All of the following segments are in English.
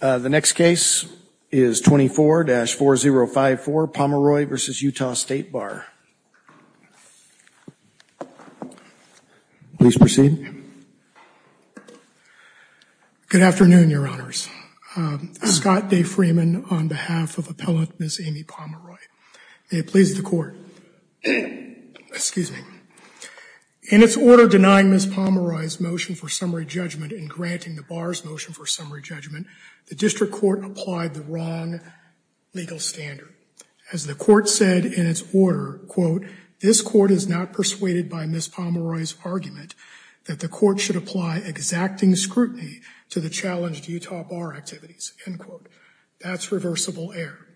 The next case is 24-4054, Pomeroy v. Utah State Bar. Please proceed. Good afternoon, Your Honors. Scott Day Freeman on behalf of Appellant Ms. Amy Pomeroy. May it please the Court. Excuse me. In its order denying Ms. Pomeroy's motion for summary judgment and granting the Bar's motion for summary judgment, the District Court applied the wrong legal standard. As the Court said in its order, This Court is not persuaded by Ms. Pomeroy's argument that the Court should apply exacting scrutiny to the challenged Utah Bar activities. End quote. That's reversible error.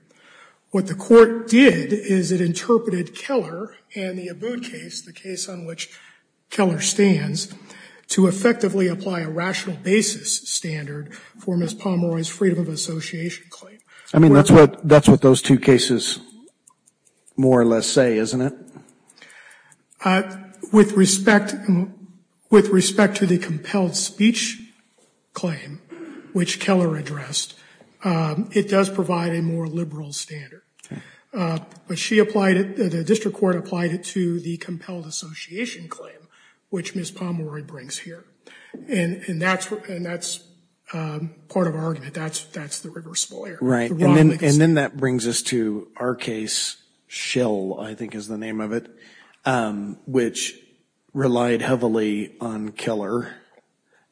What the Court did is it interpreted Keller and the Abboud case, the case on which Keller stands, to effectively apply a rational basis standard for Ms. Pomeroy's freedom of association claim. I mean, that's what those two cases more or less say, isn't it? With respect to the compelled speech claim, which Keller addressed, it does provide a more liberal standard. But the District Court applied it to the compelled association claim, which Ms. Pomeroy brings here. And that's part of our argument. That's the reversible error. Right. And then that brings us to our case, Schill, I think is the name of it, which relied heavily on Keller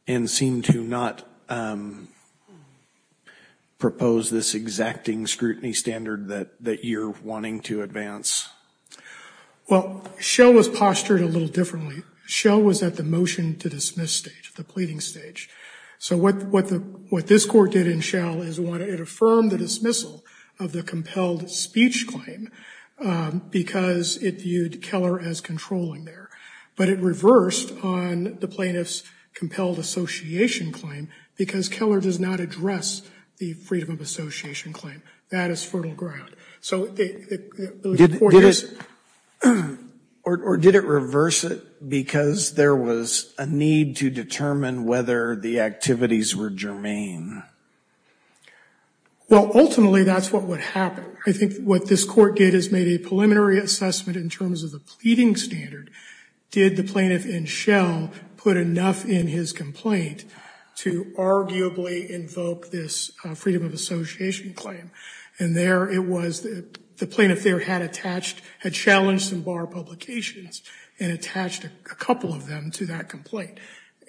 and seemed to not propose this exacting scrutiny standard that you're wanting to advance. Well, Schill was postured a little differently. Schill was at the motion to dismiss stage, the pleading stage. So what this Court did in Schill is it affirmed the dismissal of the compelled speech claim because it viewed Keller as controlling there. But it reversed on the plaintiff's compelled association claim because Keller does not address the freedom of association claim. That is fertile ground. So it was important. Or did it reverse it because there was a need to determine whether the activities were germane? Well, ultimately that's what would happen. I think what this Court did is made a preliminary assessment in terms of the pleading standard. Did the plaintiff in Schill put enough in his complaint to arguably invoke this freedom of association claim? And there it was that the plaintiff there had challenged some bar publications and attached a couple of them to that complaint.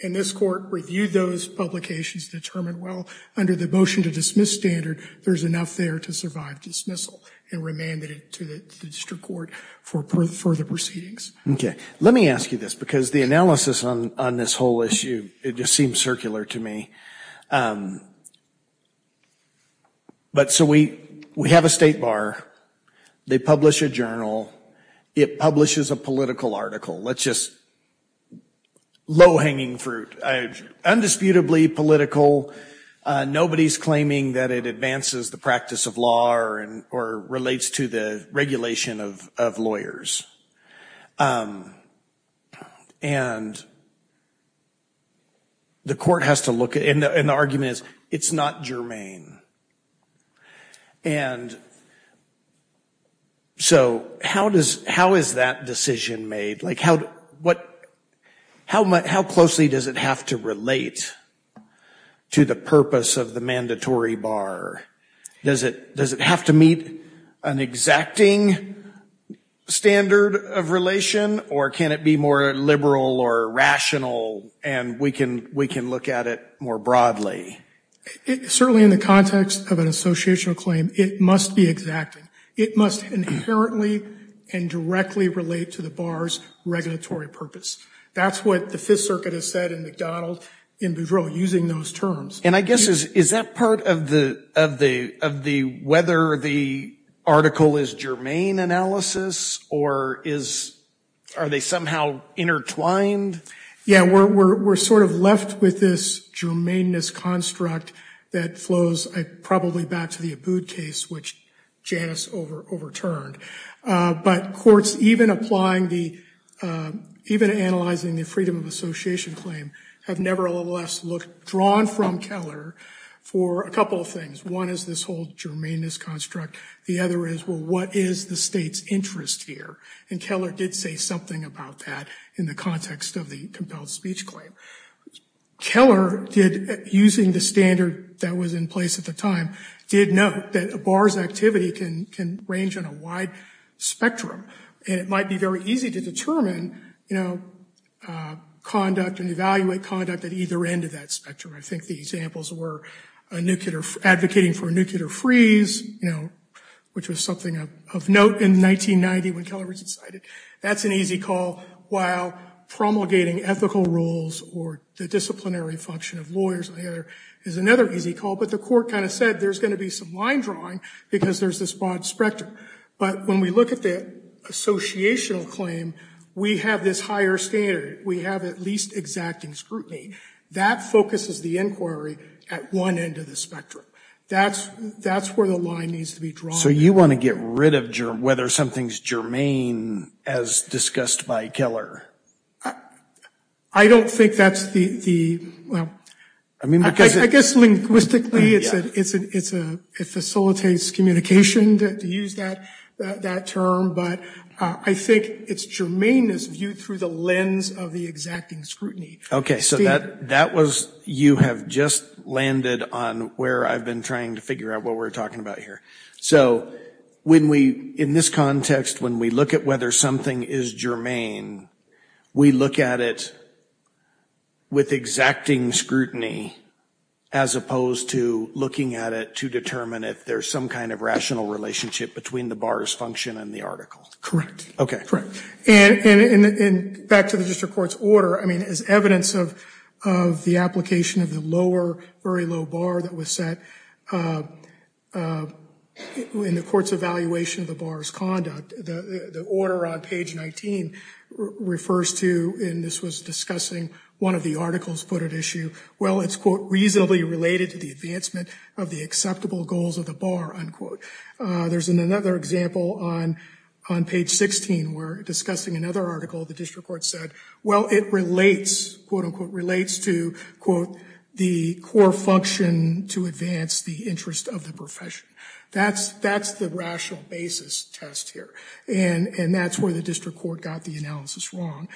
And this Court reviewed those publications and determined, well, under the motion to dismiss standard, there's enough there to survive dismissal and remanded it to the district court for further proceedings. Okay. Let me ask you this because the analysis on this whole issue, it just seems circular to me. But so we have a state bar. They publish a journal. It publishes a political article. Let's just, low-hanging fruit, undisputably political. Nobody's claiming that it advances the practice of law or relates to the regulation of lawyers. And the Court has to look at it. And the argument is it's not germane. And so how is that decision made? How closely does it have to relate to the purpose of the mandatory bar? Does it have to meet an exacting standard of relation? Or can it be more liberal or rational and we can look at it more broadly? Certainly in the context of an associational claim, it must be exacting. It must inherently and directly relate to the bar's regulatory purpose. That's what the Fifth Circuit has said in McDonald, in Boudreaux, using those terms. And I guess is that part of the whether the article is germane analysis or are they somehow intertwined? Yeah, we're sort of left with this germaneness construct that flows probably back to the Abood case, which Janice overturned. But courts, even applying the, even analyzing the freedom of association claim, have nevertheless drawn from Keller for a couple of things. One is this whole germaneness construct. The other is, well, what is the state's interest here? And Keller did say something about that in the context of the compelled speech claim. Keller did, using the standard that was in place at the time, did note that a bar's activity can range on a wide spectrum. And it might be very easy to determine conduct and evaluate conduct at either end of that spectrum. I think the examples were advocating for a nuclear freeze, which was something of note in 1990 when Keller was decided. That's an easy call, while promulgating ethical rules or the disciplinary function of lawyers is another easy call. But the court kind of said there's going to be some line drawing because there's this broad spectrum. But when we look at the associational claim, we have this higher standard. We have at least exacting scrutiny. That focuses the inquiry at one end of the spectrum. That's where the line needs to be drawn. So you want to get rid of whether something's germane, as discussed by Keller? I don't think that's the, well, I guess linguistically it facilitates communication to use that term. But I think it's germaneness viewed through the lens of the exacting scrutiny. Okay, so that was, you have just landed on where I've been trying to figure out what we're talking about here. So when we, in this context, when we look at whether something is germane, we look at it with exacting scrutiny as opposed to looking at it to determine if there's some kind of rational relationship between the bars function and the article. Correct. And back to the district court's order, as evidence of the application of the lower, very low bar that was set in the court's evaluation of the bar's conduct, the order on page 19 refers to, and this was discussing one of the article's footed issue, well, it's quote, reasonably related to the advancement of the acceptable goals of the bar, unquote. There's another example on page 16 where, discussing another article, the district court said, well, it relates, quote, unquote, relates to, quote, the core function to advance the interest of the profession. That's the rational basis test here. And that's where the district court got the analysis wrong.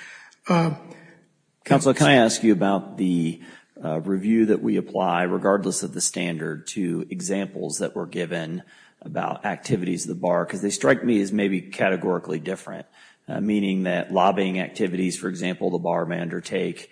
Counsel, can I ask you about the review that we apply, regardless of the standard, to examples that were given about activities of the bar? Because they strike me as maybe categorically different, meaning that lobbying activities, for example, the bar manager take,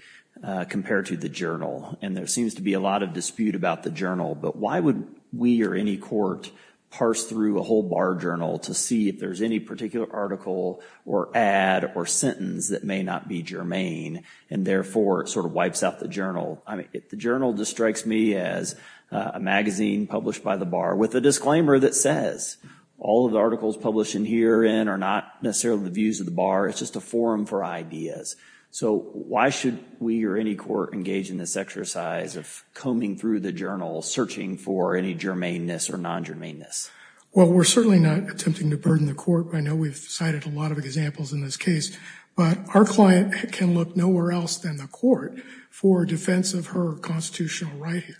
compared to the journal. And there seems to be a lot of dispute about the journal, but why would we or any court parse through a whole bar journal to see if there's any particular article or ad or sentence that may not be germane, and therefore sort of wipes out the journal? The journal just strikes me as a magazine published by the bar with a disclaimer that says, all of the articles published in herein are not necessarily the views of the bar, it's just a forum for ideas. So why should we or any court engage in this exercise of combing through the journal, searching for any germaneness or non-germaneness? Well, we're certainly not attempting to burden the court. I know we've cited a lot of examples in this case, but our client can look nowhere else than the court for defense of her constitutional right here.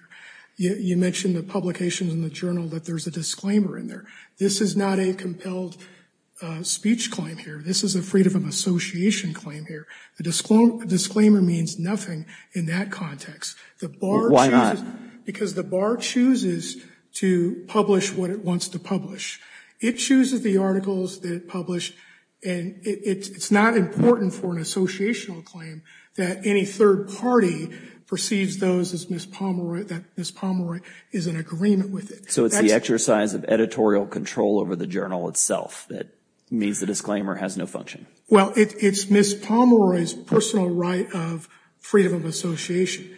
You mentioned the publications in the journal that there's a disclaimer in there. This is not a compelled speech claim here. This is a freedom of association claim here. The disclaimer means nothing in that context. Why not? Because the bar chooses to publish what it wants to publish. It chooses the articles that it published, and it's not important for an associational claim that any third party perceives those as Miss Pomeroy, that Miss Pomeroy is in agreement with it. So it's the exercise of editorial control over the journal itself that means the disclaimer has no function. Well, it's Miss Pomeroy's personal right of freedom of association.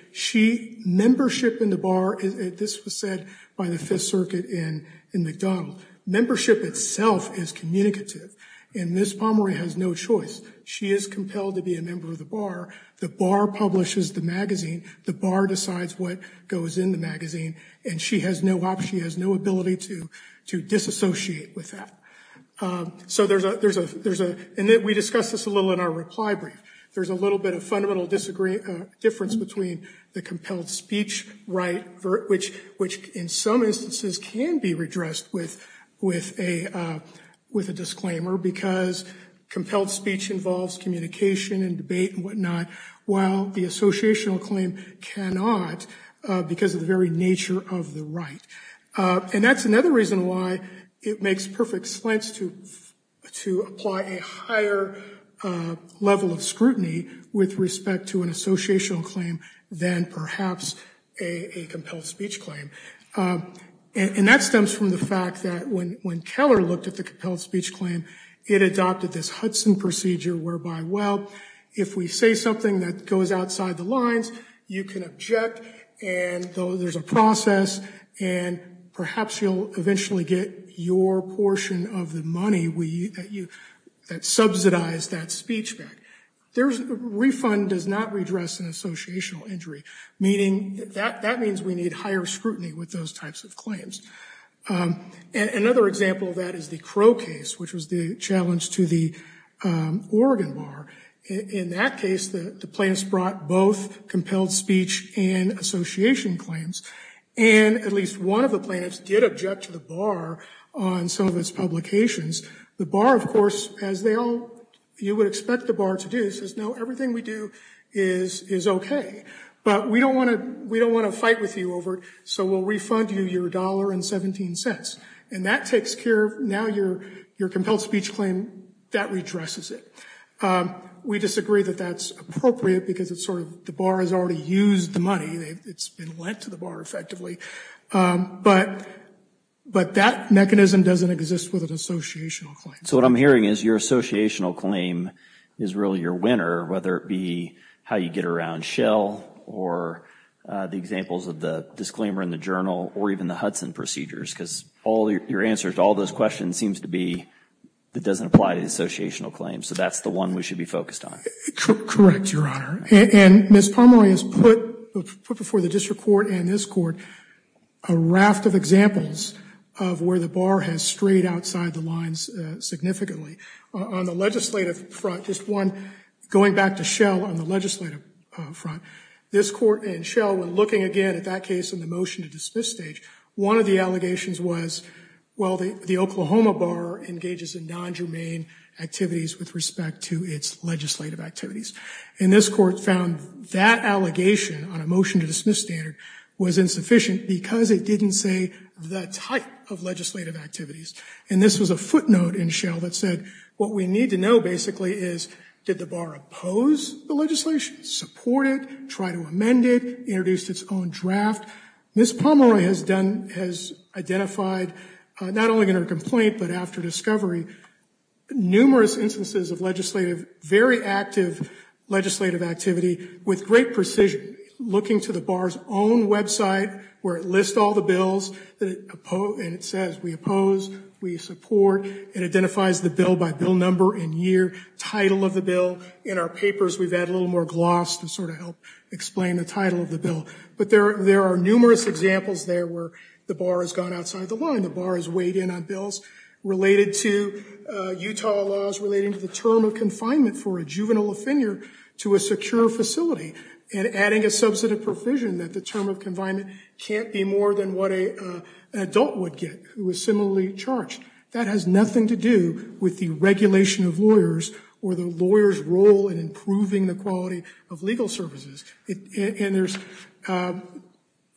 Membership in the bar, this was said by the Fifth Circuit in McDonald, membership itself is communicative, and Miss Pomeroy has no choice. She is compelled to be a member of the bar. The bar publishes the magazine. The bar decides what goes in the magazine, and she has no option. She has no ability to disassociate with that. We discussed this a little in our reply brief. There's a little bit of fundamental difference between the compelled speech right, which in some instances can be redressed with a disclaimer, because compelled speech involves communication and debate and whatnot, while the associational claim cannot because of the very nature of the right. And that's another reason why it makes perfect sense to apply a higher level of scrutiny with respect to an associational claim than perhaps a compelled speech claim. And that stems from the fact that when Keller looked at the compelled speech claim, it adopted this Hudson procedure whereby, well, if we say something that goes outside the lines, you can object, and there's a process, and perhaps you'll eventually get your portion of the money that subsidized that speech back. Refund does not redress an associational injury. That means we need higher scrutiny with those types of claims. Another example of that is the Crow case, which was the challenge to the Oregon bar. In that case, the plaintiffs brought both compelled speech and association claims, and at least one of the plaintiffs did object to the bar on some of its publications. The bar, of course, as they all, you would expect the bar to do, says, no, everything we do is okay, but we don't want to fight with you over it, so we'll refund you your $1.17. And that takes care of, now your compelled speech claim, that redresses it. We disagree that that's appropriate because it's sort of, the bar has already used the money. It's been lent to the bar, effectively. But that mechanism doesn't exist with an associational claim. So what I'm hearing is your associational claim is really your winner, whether it be how you get around Shell, or the examples of the disclaimer in the journal, or even the Hudson procedures, because your answer to all those questions seems to be it doesn't apply to associational claims, so that's the one we should be focused on. Correct, Your Honor. And Ms. Palmore has put before the district court and this court a raft of examples of where the bar has strayed outside the lines significantly. On the legislative front, just one, going back to Shell on the legislative front, this court and Shell, when looking again at that case in the motion to dismiss stage, one of the allegations was, well, the Oklahoma bar engages in non-germane activities with respect to its legislative activities. And this court found that allegation on a motion to dismiss standard was insufficient because it didn't say the type of legislative activities. And this was a footnote in Shell that said, what we need to know, basically, is did the bar oppose the legislation, support it, try to amend it, introduce its own draft. Ms. Palmore has identified, not only in her complaint, but after discovery, numerous instances of legislative, very active legislative activity, with great precision, looking to the bar's own website, where it lists all the bills, and it says, we oppose, we support, and identifies the bill by bill number and year, the title of the bill. In our papers, we've added a little more gloss to sort of help explain the title of the bill. But there are numerous examples there where the bar has gone outside the line, the bar has weighed in on bills related to Utah laws, relating to the term of confinement for a juvenile offender to a secure facility, and adding a substantive provision that the term of confinement can't be more than what an adult would get, who is similarly charged. That has nothing to do with the regulation of lawyers or the lawyers' role in improving the quality of legal services. And there's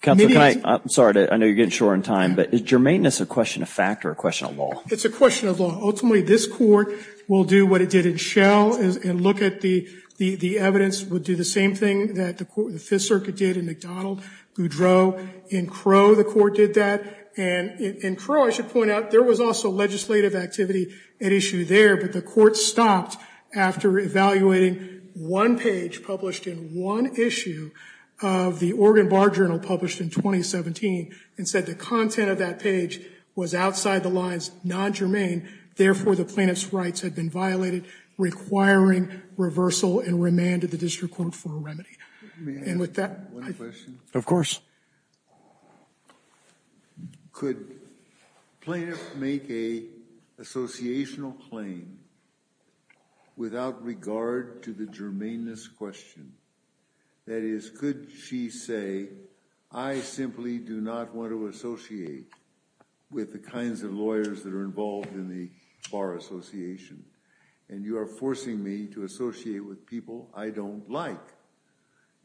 many others. I'm sorry, I know you're getting short on time, but is germaneness a question of fact or a question of law? It's a question of law. Ultimately, this court will do what it did in Shell and look at the evidence, would do the same thing that the Fifth Circuit did in McDonald, Goudreau. In Crow, the court did that. And in Crow, I should point out, there was also legislative activity at issue there, but the court stopped after evaluating one page published in one issue of the Oregon Bar Journal published in 2017 and said the content of that page was outside the lines, non-germane. Therefore, the plaintiff's rights had been violated, requiring reversal and remanded the district court for a remedy. May I ask one question? Of course. Could a plaintiff make an associational claim without regard to the germaneness question? That is, could she say, I simply do not want to associate with the kinds of lawyers that are involved in the bar association, and you are forcing me to associate with people I don't like.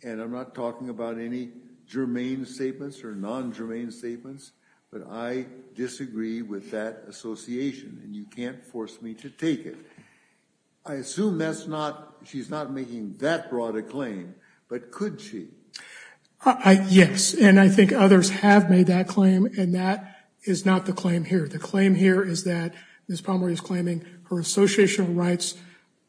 And I'm not talking about any germane statements or non-germane statements, but I disagree with that association, and you can't force me to take it. I assume she's not making that broad a claim, but could she? Yes, and I think others have made that claim, and that is not the claim here. The claim here is that Ms. Palmer is claiming her associational rights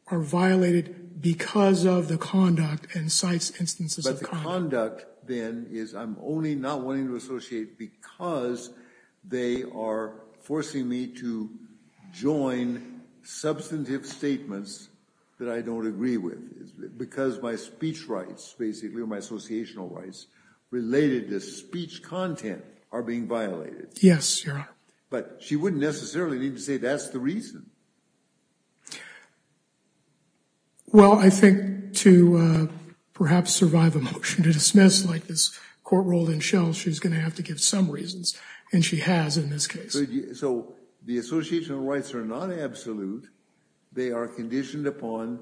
are violated because of the conduct and cites instances of crime. But the conduct, then, is I'm only not wanting to associate because they are forcing me to join substantive statements that I don't agree with, because my speech rights, basically, or my associational rights, related to speech content, are being violated. Yes, Your Honor. But she wouldn't necessarily need to say that's the reason. Well, I think to perhaps survive a motion to dismiss, like this court ruled in Shell, she's going to have to give some reasons, and she has in this case. So the associational rights are not absolute. They are conditioned upon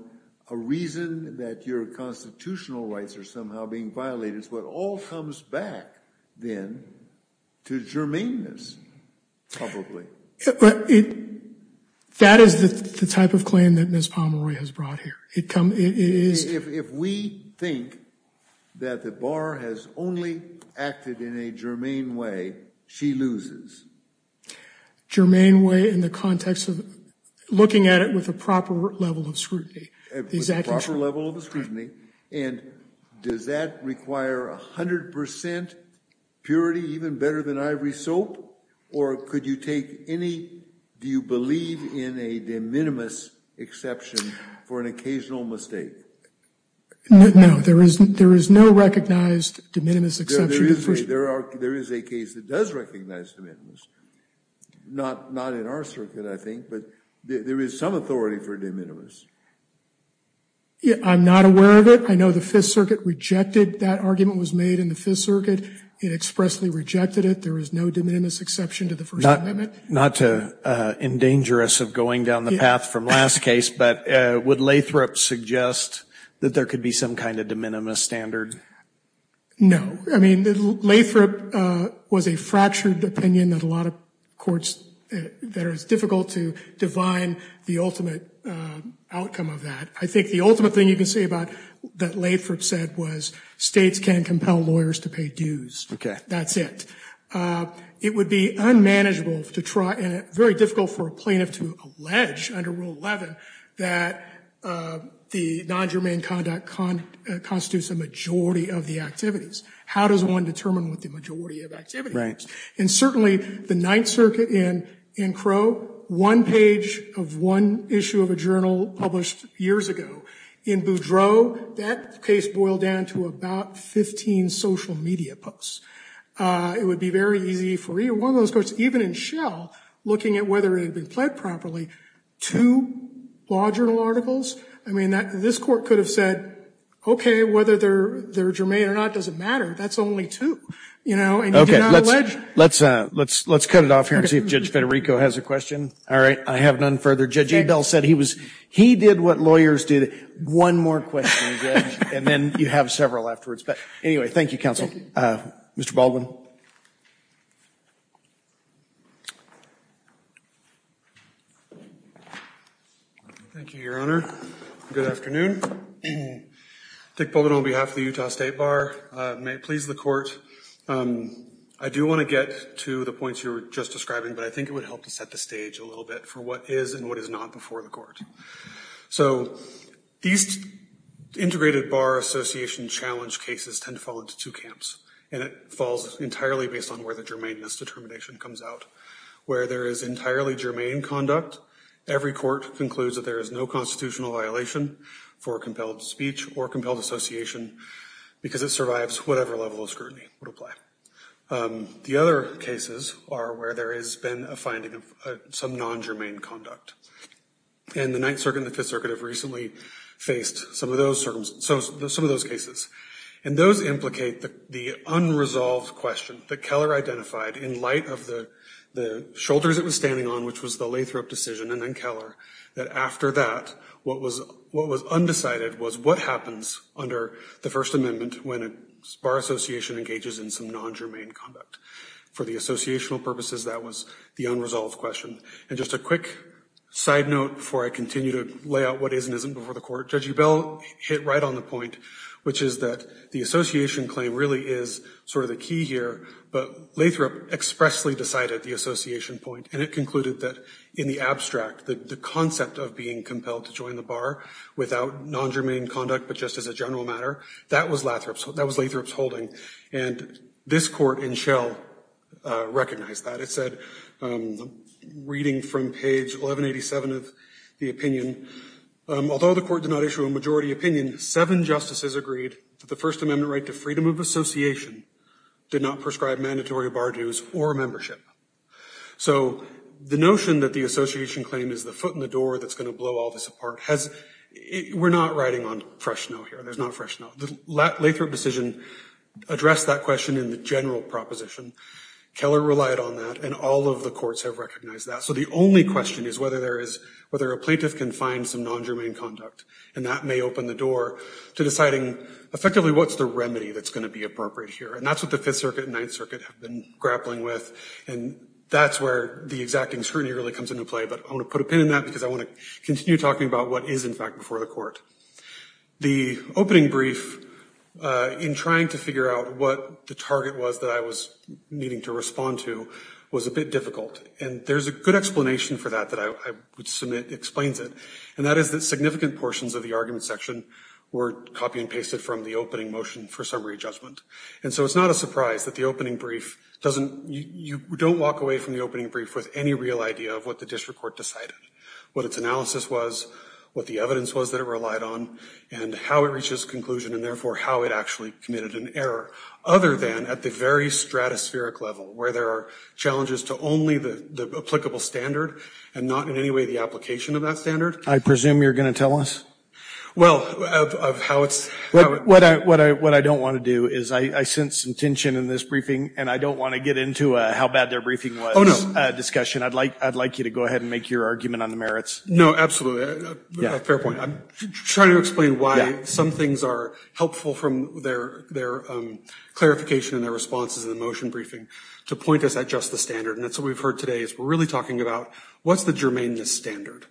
a reason that your constitutional rights are somehow being violated. So it all comes back, then, to germaneness, probably. That is the type of claim that Ms. Palmer has brought here. If we think that the bar has only acted in a germane way, she loses. Germane way in the context of looking at it with a proper level of scrutiny. With a proper level of scrutiny. And does that require 100% purity, even better than ivory soap? Or could you take any, do you believe in a de minimis exception for an occasional mistake? No, there is no recognized de minimis exception. There is a case that does recognize de minimis. Not in our circuit, I think, but there is some authority for de minimis. I'm not aware of it. I know the Fifth Circuit rejected that argument was made in the Fifth Circuit. It expressly rejected it. There is no de minimis exception to the First Amendment. Not to endanger us of going down the path from last case, but would Lathrop suggest that there could be some kind of de minimis standard? No. I mean, Lathrop was a fractured opinion that a lot of courts, that it was difficult to define the ultimate outcome of that. I think the ultimate thing you can say about, that Lathrop said, was states can't compel lawyers to pay dues. Okay. That's it. It would be unmanageable to try, and very difficult for a plaintiff to allege under Rule 11 that the non-germane conduct constitutes a majority of the activities. How does one determine what the majority of activity is? Right. And certainly the Ninth Circuit in Crow, one page of one issue of a journal published years ago, in Boudreau, that case boiled down to about 15 social media posts. It would be very easy for one of those courts, even in Shell, looking at whether it had been pled properly, two law journal articles. I mean, this court could have said, okay, whether they're germane or not doesn't matter, that's only two. Okay. Let's cut it off here and see if Judge Federico has a question. All right. I have none further. Judge Abel said he did what lawyers do. One more question, Judge, and then you have several afterwards. But anyway, thank you, Counsel. Mr. Baldwin. Thank you, Your Honor. Good afternoon. Dick Baldwin on behalf of the Utah State Bar. May it please the Court. I do want to get to the points you were just describing, but I think it would help to set the stage a little bit for what is and what is not before the Court. So these integrated bar association challenge cases tend to fall into two camps, and it falls entirely based on where the germaneness determination comes out. Where there is entirely germane conduct, every court concludes that there is no constitutional violation for compelled speech or compelled association because it survives whatever level of scrutiny would apply. The other cases are where there has been a finding of some non-germane conduct. And the Ninth Circuit and the Fifth Circuit have recently faced some of those cases. And those implicate the unresolved question that Keller identified in light of the shoulders it was standing on, which was the Lathrop decision and then Keller, that after that what was undecided was what happens under the First Amendment. And that is that the association engages in some non-germane conduct. For the associational purposes, that was the unresolved question. And just a quick side note before I continue to lay out what is and isn't before the Court. Judge Ebell hit right on the point, which is that the association claim really is sort of the key here, but Lathrop expressly decided the association point, and it concluded that in the abstract, the concept of being compelled to join the bar without non-germane conduct, but just as a general matter, that was Lathrop's holding. And this Court in Shell recognized that. It said, reading from page 1187 of the opinion, although the Court did not issue a majority opinion, seven justices agreed that the First Amendment right to freedom of association did not prescribe mandatory bar dues or membership. So the notion that the association claim is the foot in the door that's going to blow all this apart, we're not riding on fresh snow here. There's not fresh snow. The Lathrop decision addressed that question in the general proposition. Keller relied on that, and all of the courts have recognized that. So the only question is whether a plaintiff can find some non-germane conduct, and that may open the door to deciding effectively what's the remedy that's going to be appropriate here. And that's what the Fifth Circuit and Ninth Circuit have been grappling with, and that's where the exacting scrutiny really comes into play. But I want to put a pin in that because I want to continue talking about what is, in fact, before the Court. The opening brief, in trying to figure out what the target was that I was needing to respond to was a bit difficult. And there's a good explanation for that that I would submit explains it, and that is that significant portions of the argument section were copy and pasted from the opening motion for summary judgment. And so it's not a surprise that the opening brief doesn't – you don't walk away from the opening brief with any real idea of what the district court decided, what its analysis was, what the evidence was that it relied on, and how it reached its conclusion, and therefore how it actually committed an error, other than at the very stratospheric level where there are challenges to only the applicable standard and not in any way the application of that standard. I presume you're going to tell us? Well, of how it's – What I don't want to do is I sense some tension in this briefing, and I don't want to get into how bad their briefing was discussion. I'd like you to go ahead and make your argument on the merits. No, absolutely. Fair point. I'm trying to explain why some things are helpful from their clarification and their responses in the motion briefing to point us at just the standard. And that's what we've heard today is we're really talking about what's the germane standard.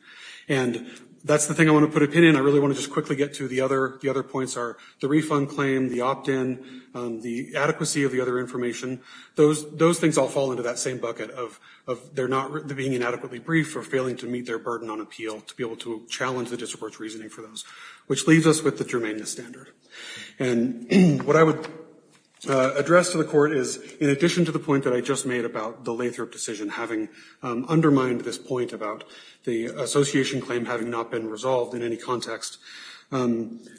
And that's the thing I want to put a pin in. I really want to just quickly get to the other points are the refund claim, the opt-in, the adequacy of the other information. Those things all fall into that same bucket of they're not being inadequately brief or failing to meet their burden on appeal to be able to challenge the district court's reasoning for those, which leaves us with the germane standard. And what I would address to the court is in addition to the point that I just made about the Lathrop decision having undermined this point about the association claim having not been resolved in any context,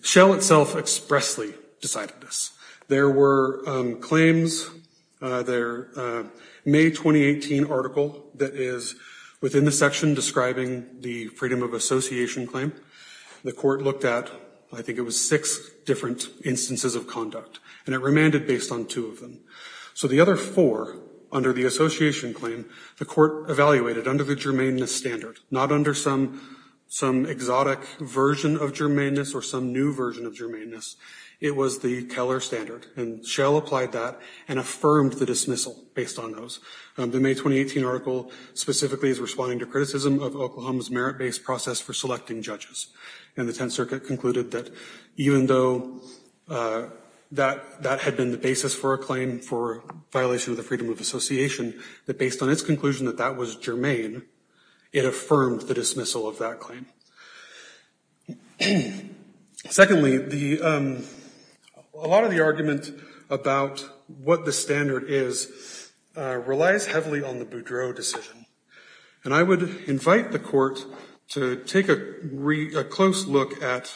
Shell itself expressly decided this. There were claims, their May 2018 article that is within the section describing the freedom of association claim. The court looked at I think it was six different instances of conduct. And it remanded based on two of them. So the other four under the association claim, the court evaluated under the germane standard, not under some exotic version of germaneness or some new version of germaneness. It was the Keller standard. And Shell applied that and affirmed the dismissal based on those. The May 2018 article specifically is responding to criticism of Oklahoma's merit-based process for selecting judges. And the Tenth Circuit concluded that even though that had been the basis for a claim for violation of the freedom of association, that based on its conclusion that that was germane, it affirmed the dismissal of that claim. Secondly, a lot of the argument about what the standard is relies heavily on the Boudreau decision. And I would invite the court to take a close look at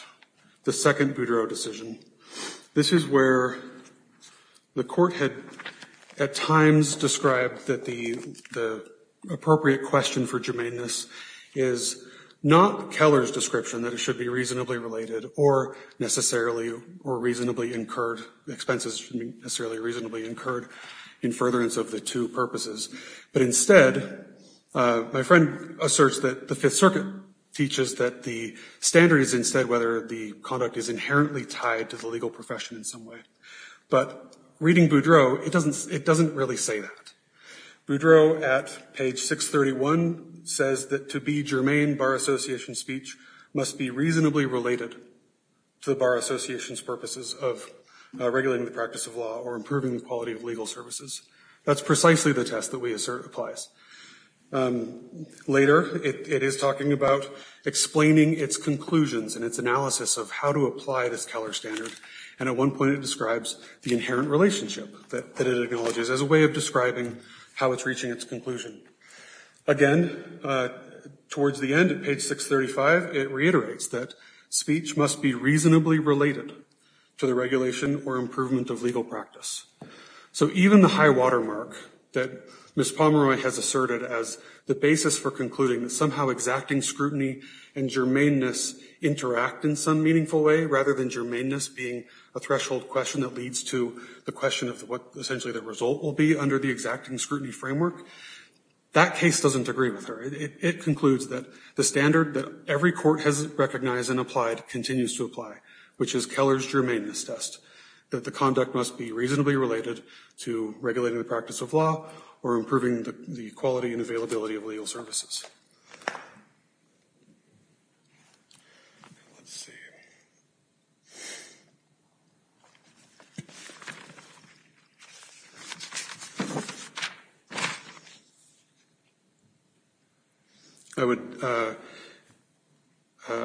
the second Boudreau decision. This is where the court had at times described that the appropriate question for germaneness is not Keller's description that it should be reasonably related or necessarily or reasonably incurred expenses should be reasonably incurred in furtherance of the two purposes. But instead, my friend asserts that the Fifth Circuit teaches that the standard is instead whether the conduct is inherently tied to the legal profession in some way. But reading Boudreau, it doesn't really say that. Boudreau at page 631 says that to be germane, bar association speech must be reasonably related to the bar association's purposes of regulating the practice of law or improving the quality of legal services. That's precisely the test that we assert applies. Later, it is talking about explaining its conclusions and its analysis of how to apply this Keller standard. And at one point, it describes the inherent relationship that it acknowledges as a way of describing how it's reaching its conclusion. Again, towards the end at page 635, it reiterates that speech must be reasonably related to the regulation or improvement of legal practice. So even the high watermark that Ms. Pomeroy has asserted as the basis for concluding that somehow exacting scrutiny and germaneness interact in some meaningful way rather than germaneness being a threshold question that leads to the question of what essentially the result will be under the exacting scrutiny framework, that case doesn't agree with her. It concludes that the standard that every court has recognized and applied continues to apply, which is Keller's germaneness test, that the conduct must be reasonably related to regulating the practice of law or improving the quality and availability of legal services. Next slide, please. Let's see. I would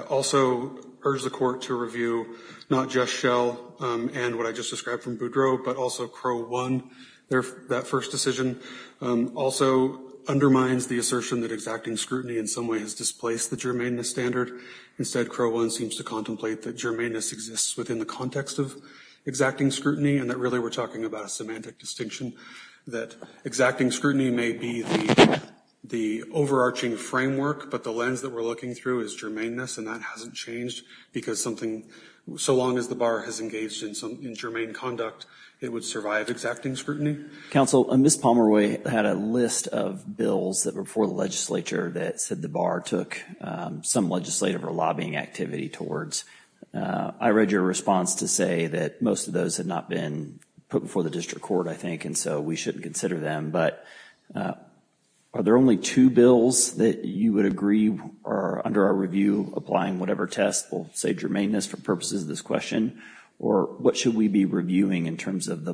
also urge the court to review not just Shell and what I just described from Boudreaux, but also Crowe 1, that first decision also undermines the notion that exacting scrutiny in some way has displaced the germaneness standard. Instead, Crowe 1 seems to contemplate that germaneness exists within the context of exacting scrutiny and that really we're talking about a semantic distinction, that exacting scrutiny may be the overarching framework, but the lens that we're looking through is germaneness, and that hasn't changed because something, so long as the bar has engaged in germane conduct, it would survive exacting scrutiny. Counsel, Ms. Pomeroy had a list of bills that were before the legislature that said the bar took some legislative or lobbying activity towards. I read your response to say that most of those had not been put before the district court, I think, and so we shouldn't consider them, but are there only two bills that you would agree are, under our review, applying whatever test will save germaneness for purposes of this question, or what should we be doing in terms of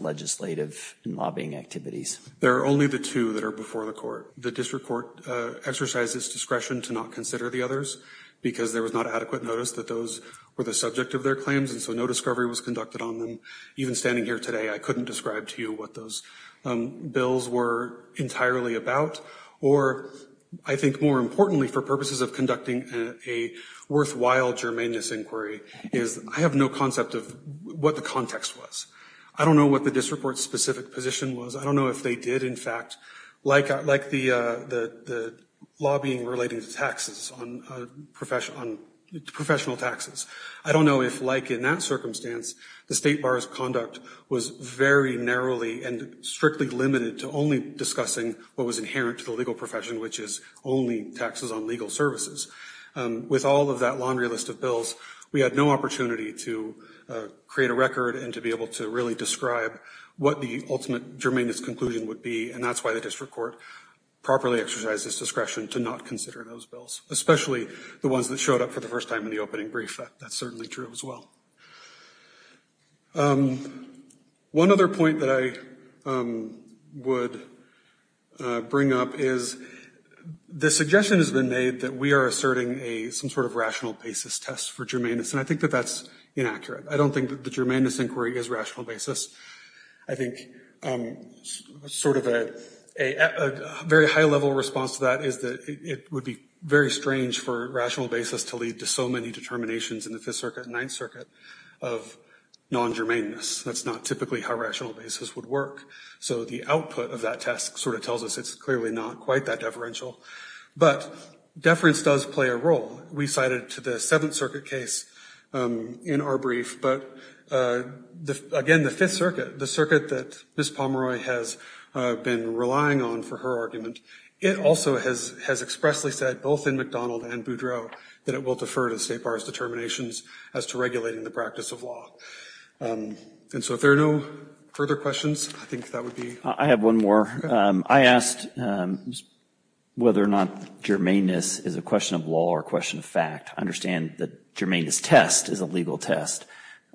legislative and lobbying activities? There are only the two that are before the court. The district court exercised its discretion to not consider the others because there was not adequate notice that those were the subject of their claims, and so no discovery was conducted on them. Even standing here today, I couldn't describe to you what those bills were entirely about, or I think more importantly, for purposes of conducting a worthwhile germaneness inquiry, is I have no concept of what the context was. I don't know what the district court's specific position was. I don't know if they did, in fact, like the lobbying relating to taxes, professional taxes. I don't know if, like in that circumstance, the state bar's conduct was very narrowly and strictly limited to only discussing what was inherent to the legal profession, which is only taxes on legal services. With all of that laundry list of bills, we had no opportunity to create a bill to really describe what the ultimate germaneness conclusion would be, and that's why the district court properly exercised its discretion to not consider those bills, especially the ones that showed up for the first time in the opening brief. That's certainly true as well. One other point that I would bring up is the suggestion has been made that we are asserting some sort of rational basis test for germaneness, and I think that that's inaccurate. I don't think that the germaneness inquiry is rational basis. I think sort of a very high-level response to that is that it would be very strange for rational basis to lead to so many determinations in the Fifth Circuit and Ninth Circuit of non-germaneness. That's not typically how rational basis would work. So the output of that test sort of tells us it's clearly not quite that deferential. But deference does play a role. We cited to the Seventh Circuit case in our brief, but, again, the Fifth Circuit, the circuit that Ms. Pomeroy has been relying on for her argument, it also has expressly said, both in McDonald and Boudreaux, that it will defer to State Bar's determinations as to regulating the practice of law. And so if there are no further questions, I think that would be... I have one more. I asked whether or not germaneness is a question of law or a question of fact. I understand that germaneness test is a legal test.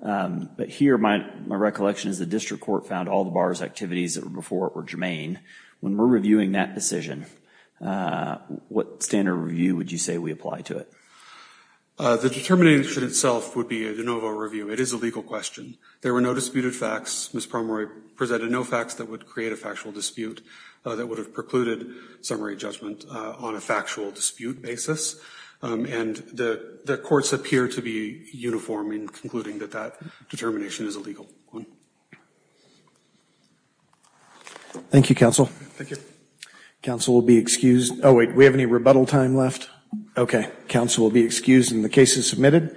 But here my recollection is the district court found all the bar's activities before it were germane. When we're reviewing that decision, what standard review would you say we apply to it? The determination itself would be a de novo review. It is a legal question. There were no disputed facts. Ms. Pomeroy presented no facts that would create a factual dispute that would have precluded summary judgment on a factual dispute basis. And the courts appear to be uniform in concluding that that determination is a legal one. Thank you, Counsel. Thank you. Counsel will be excused. Oh, wait, we have any rebuttal time left? Okay. Counsel will be excused and the case is submitted.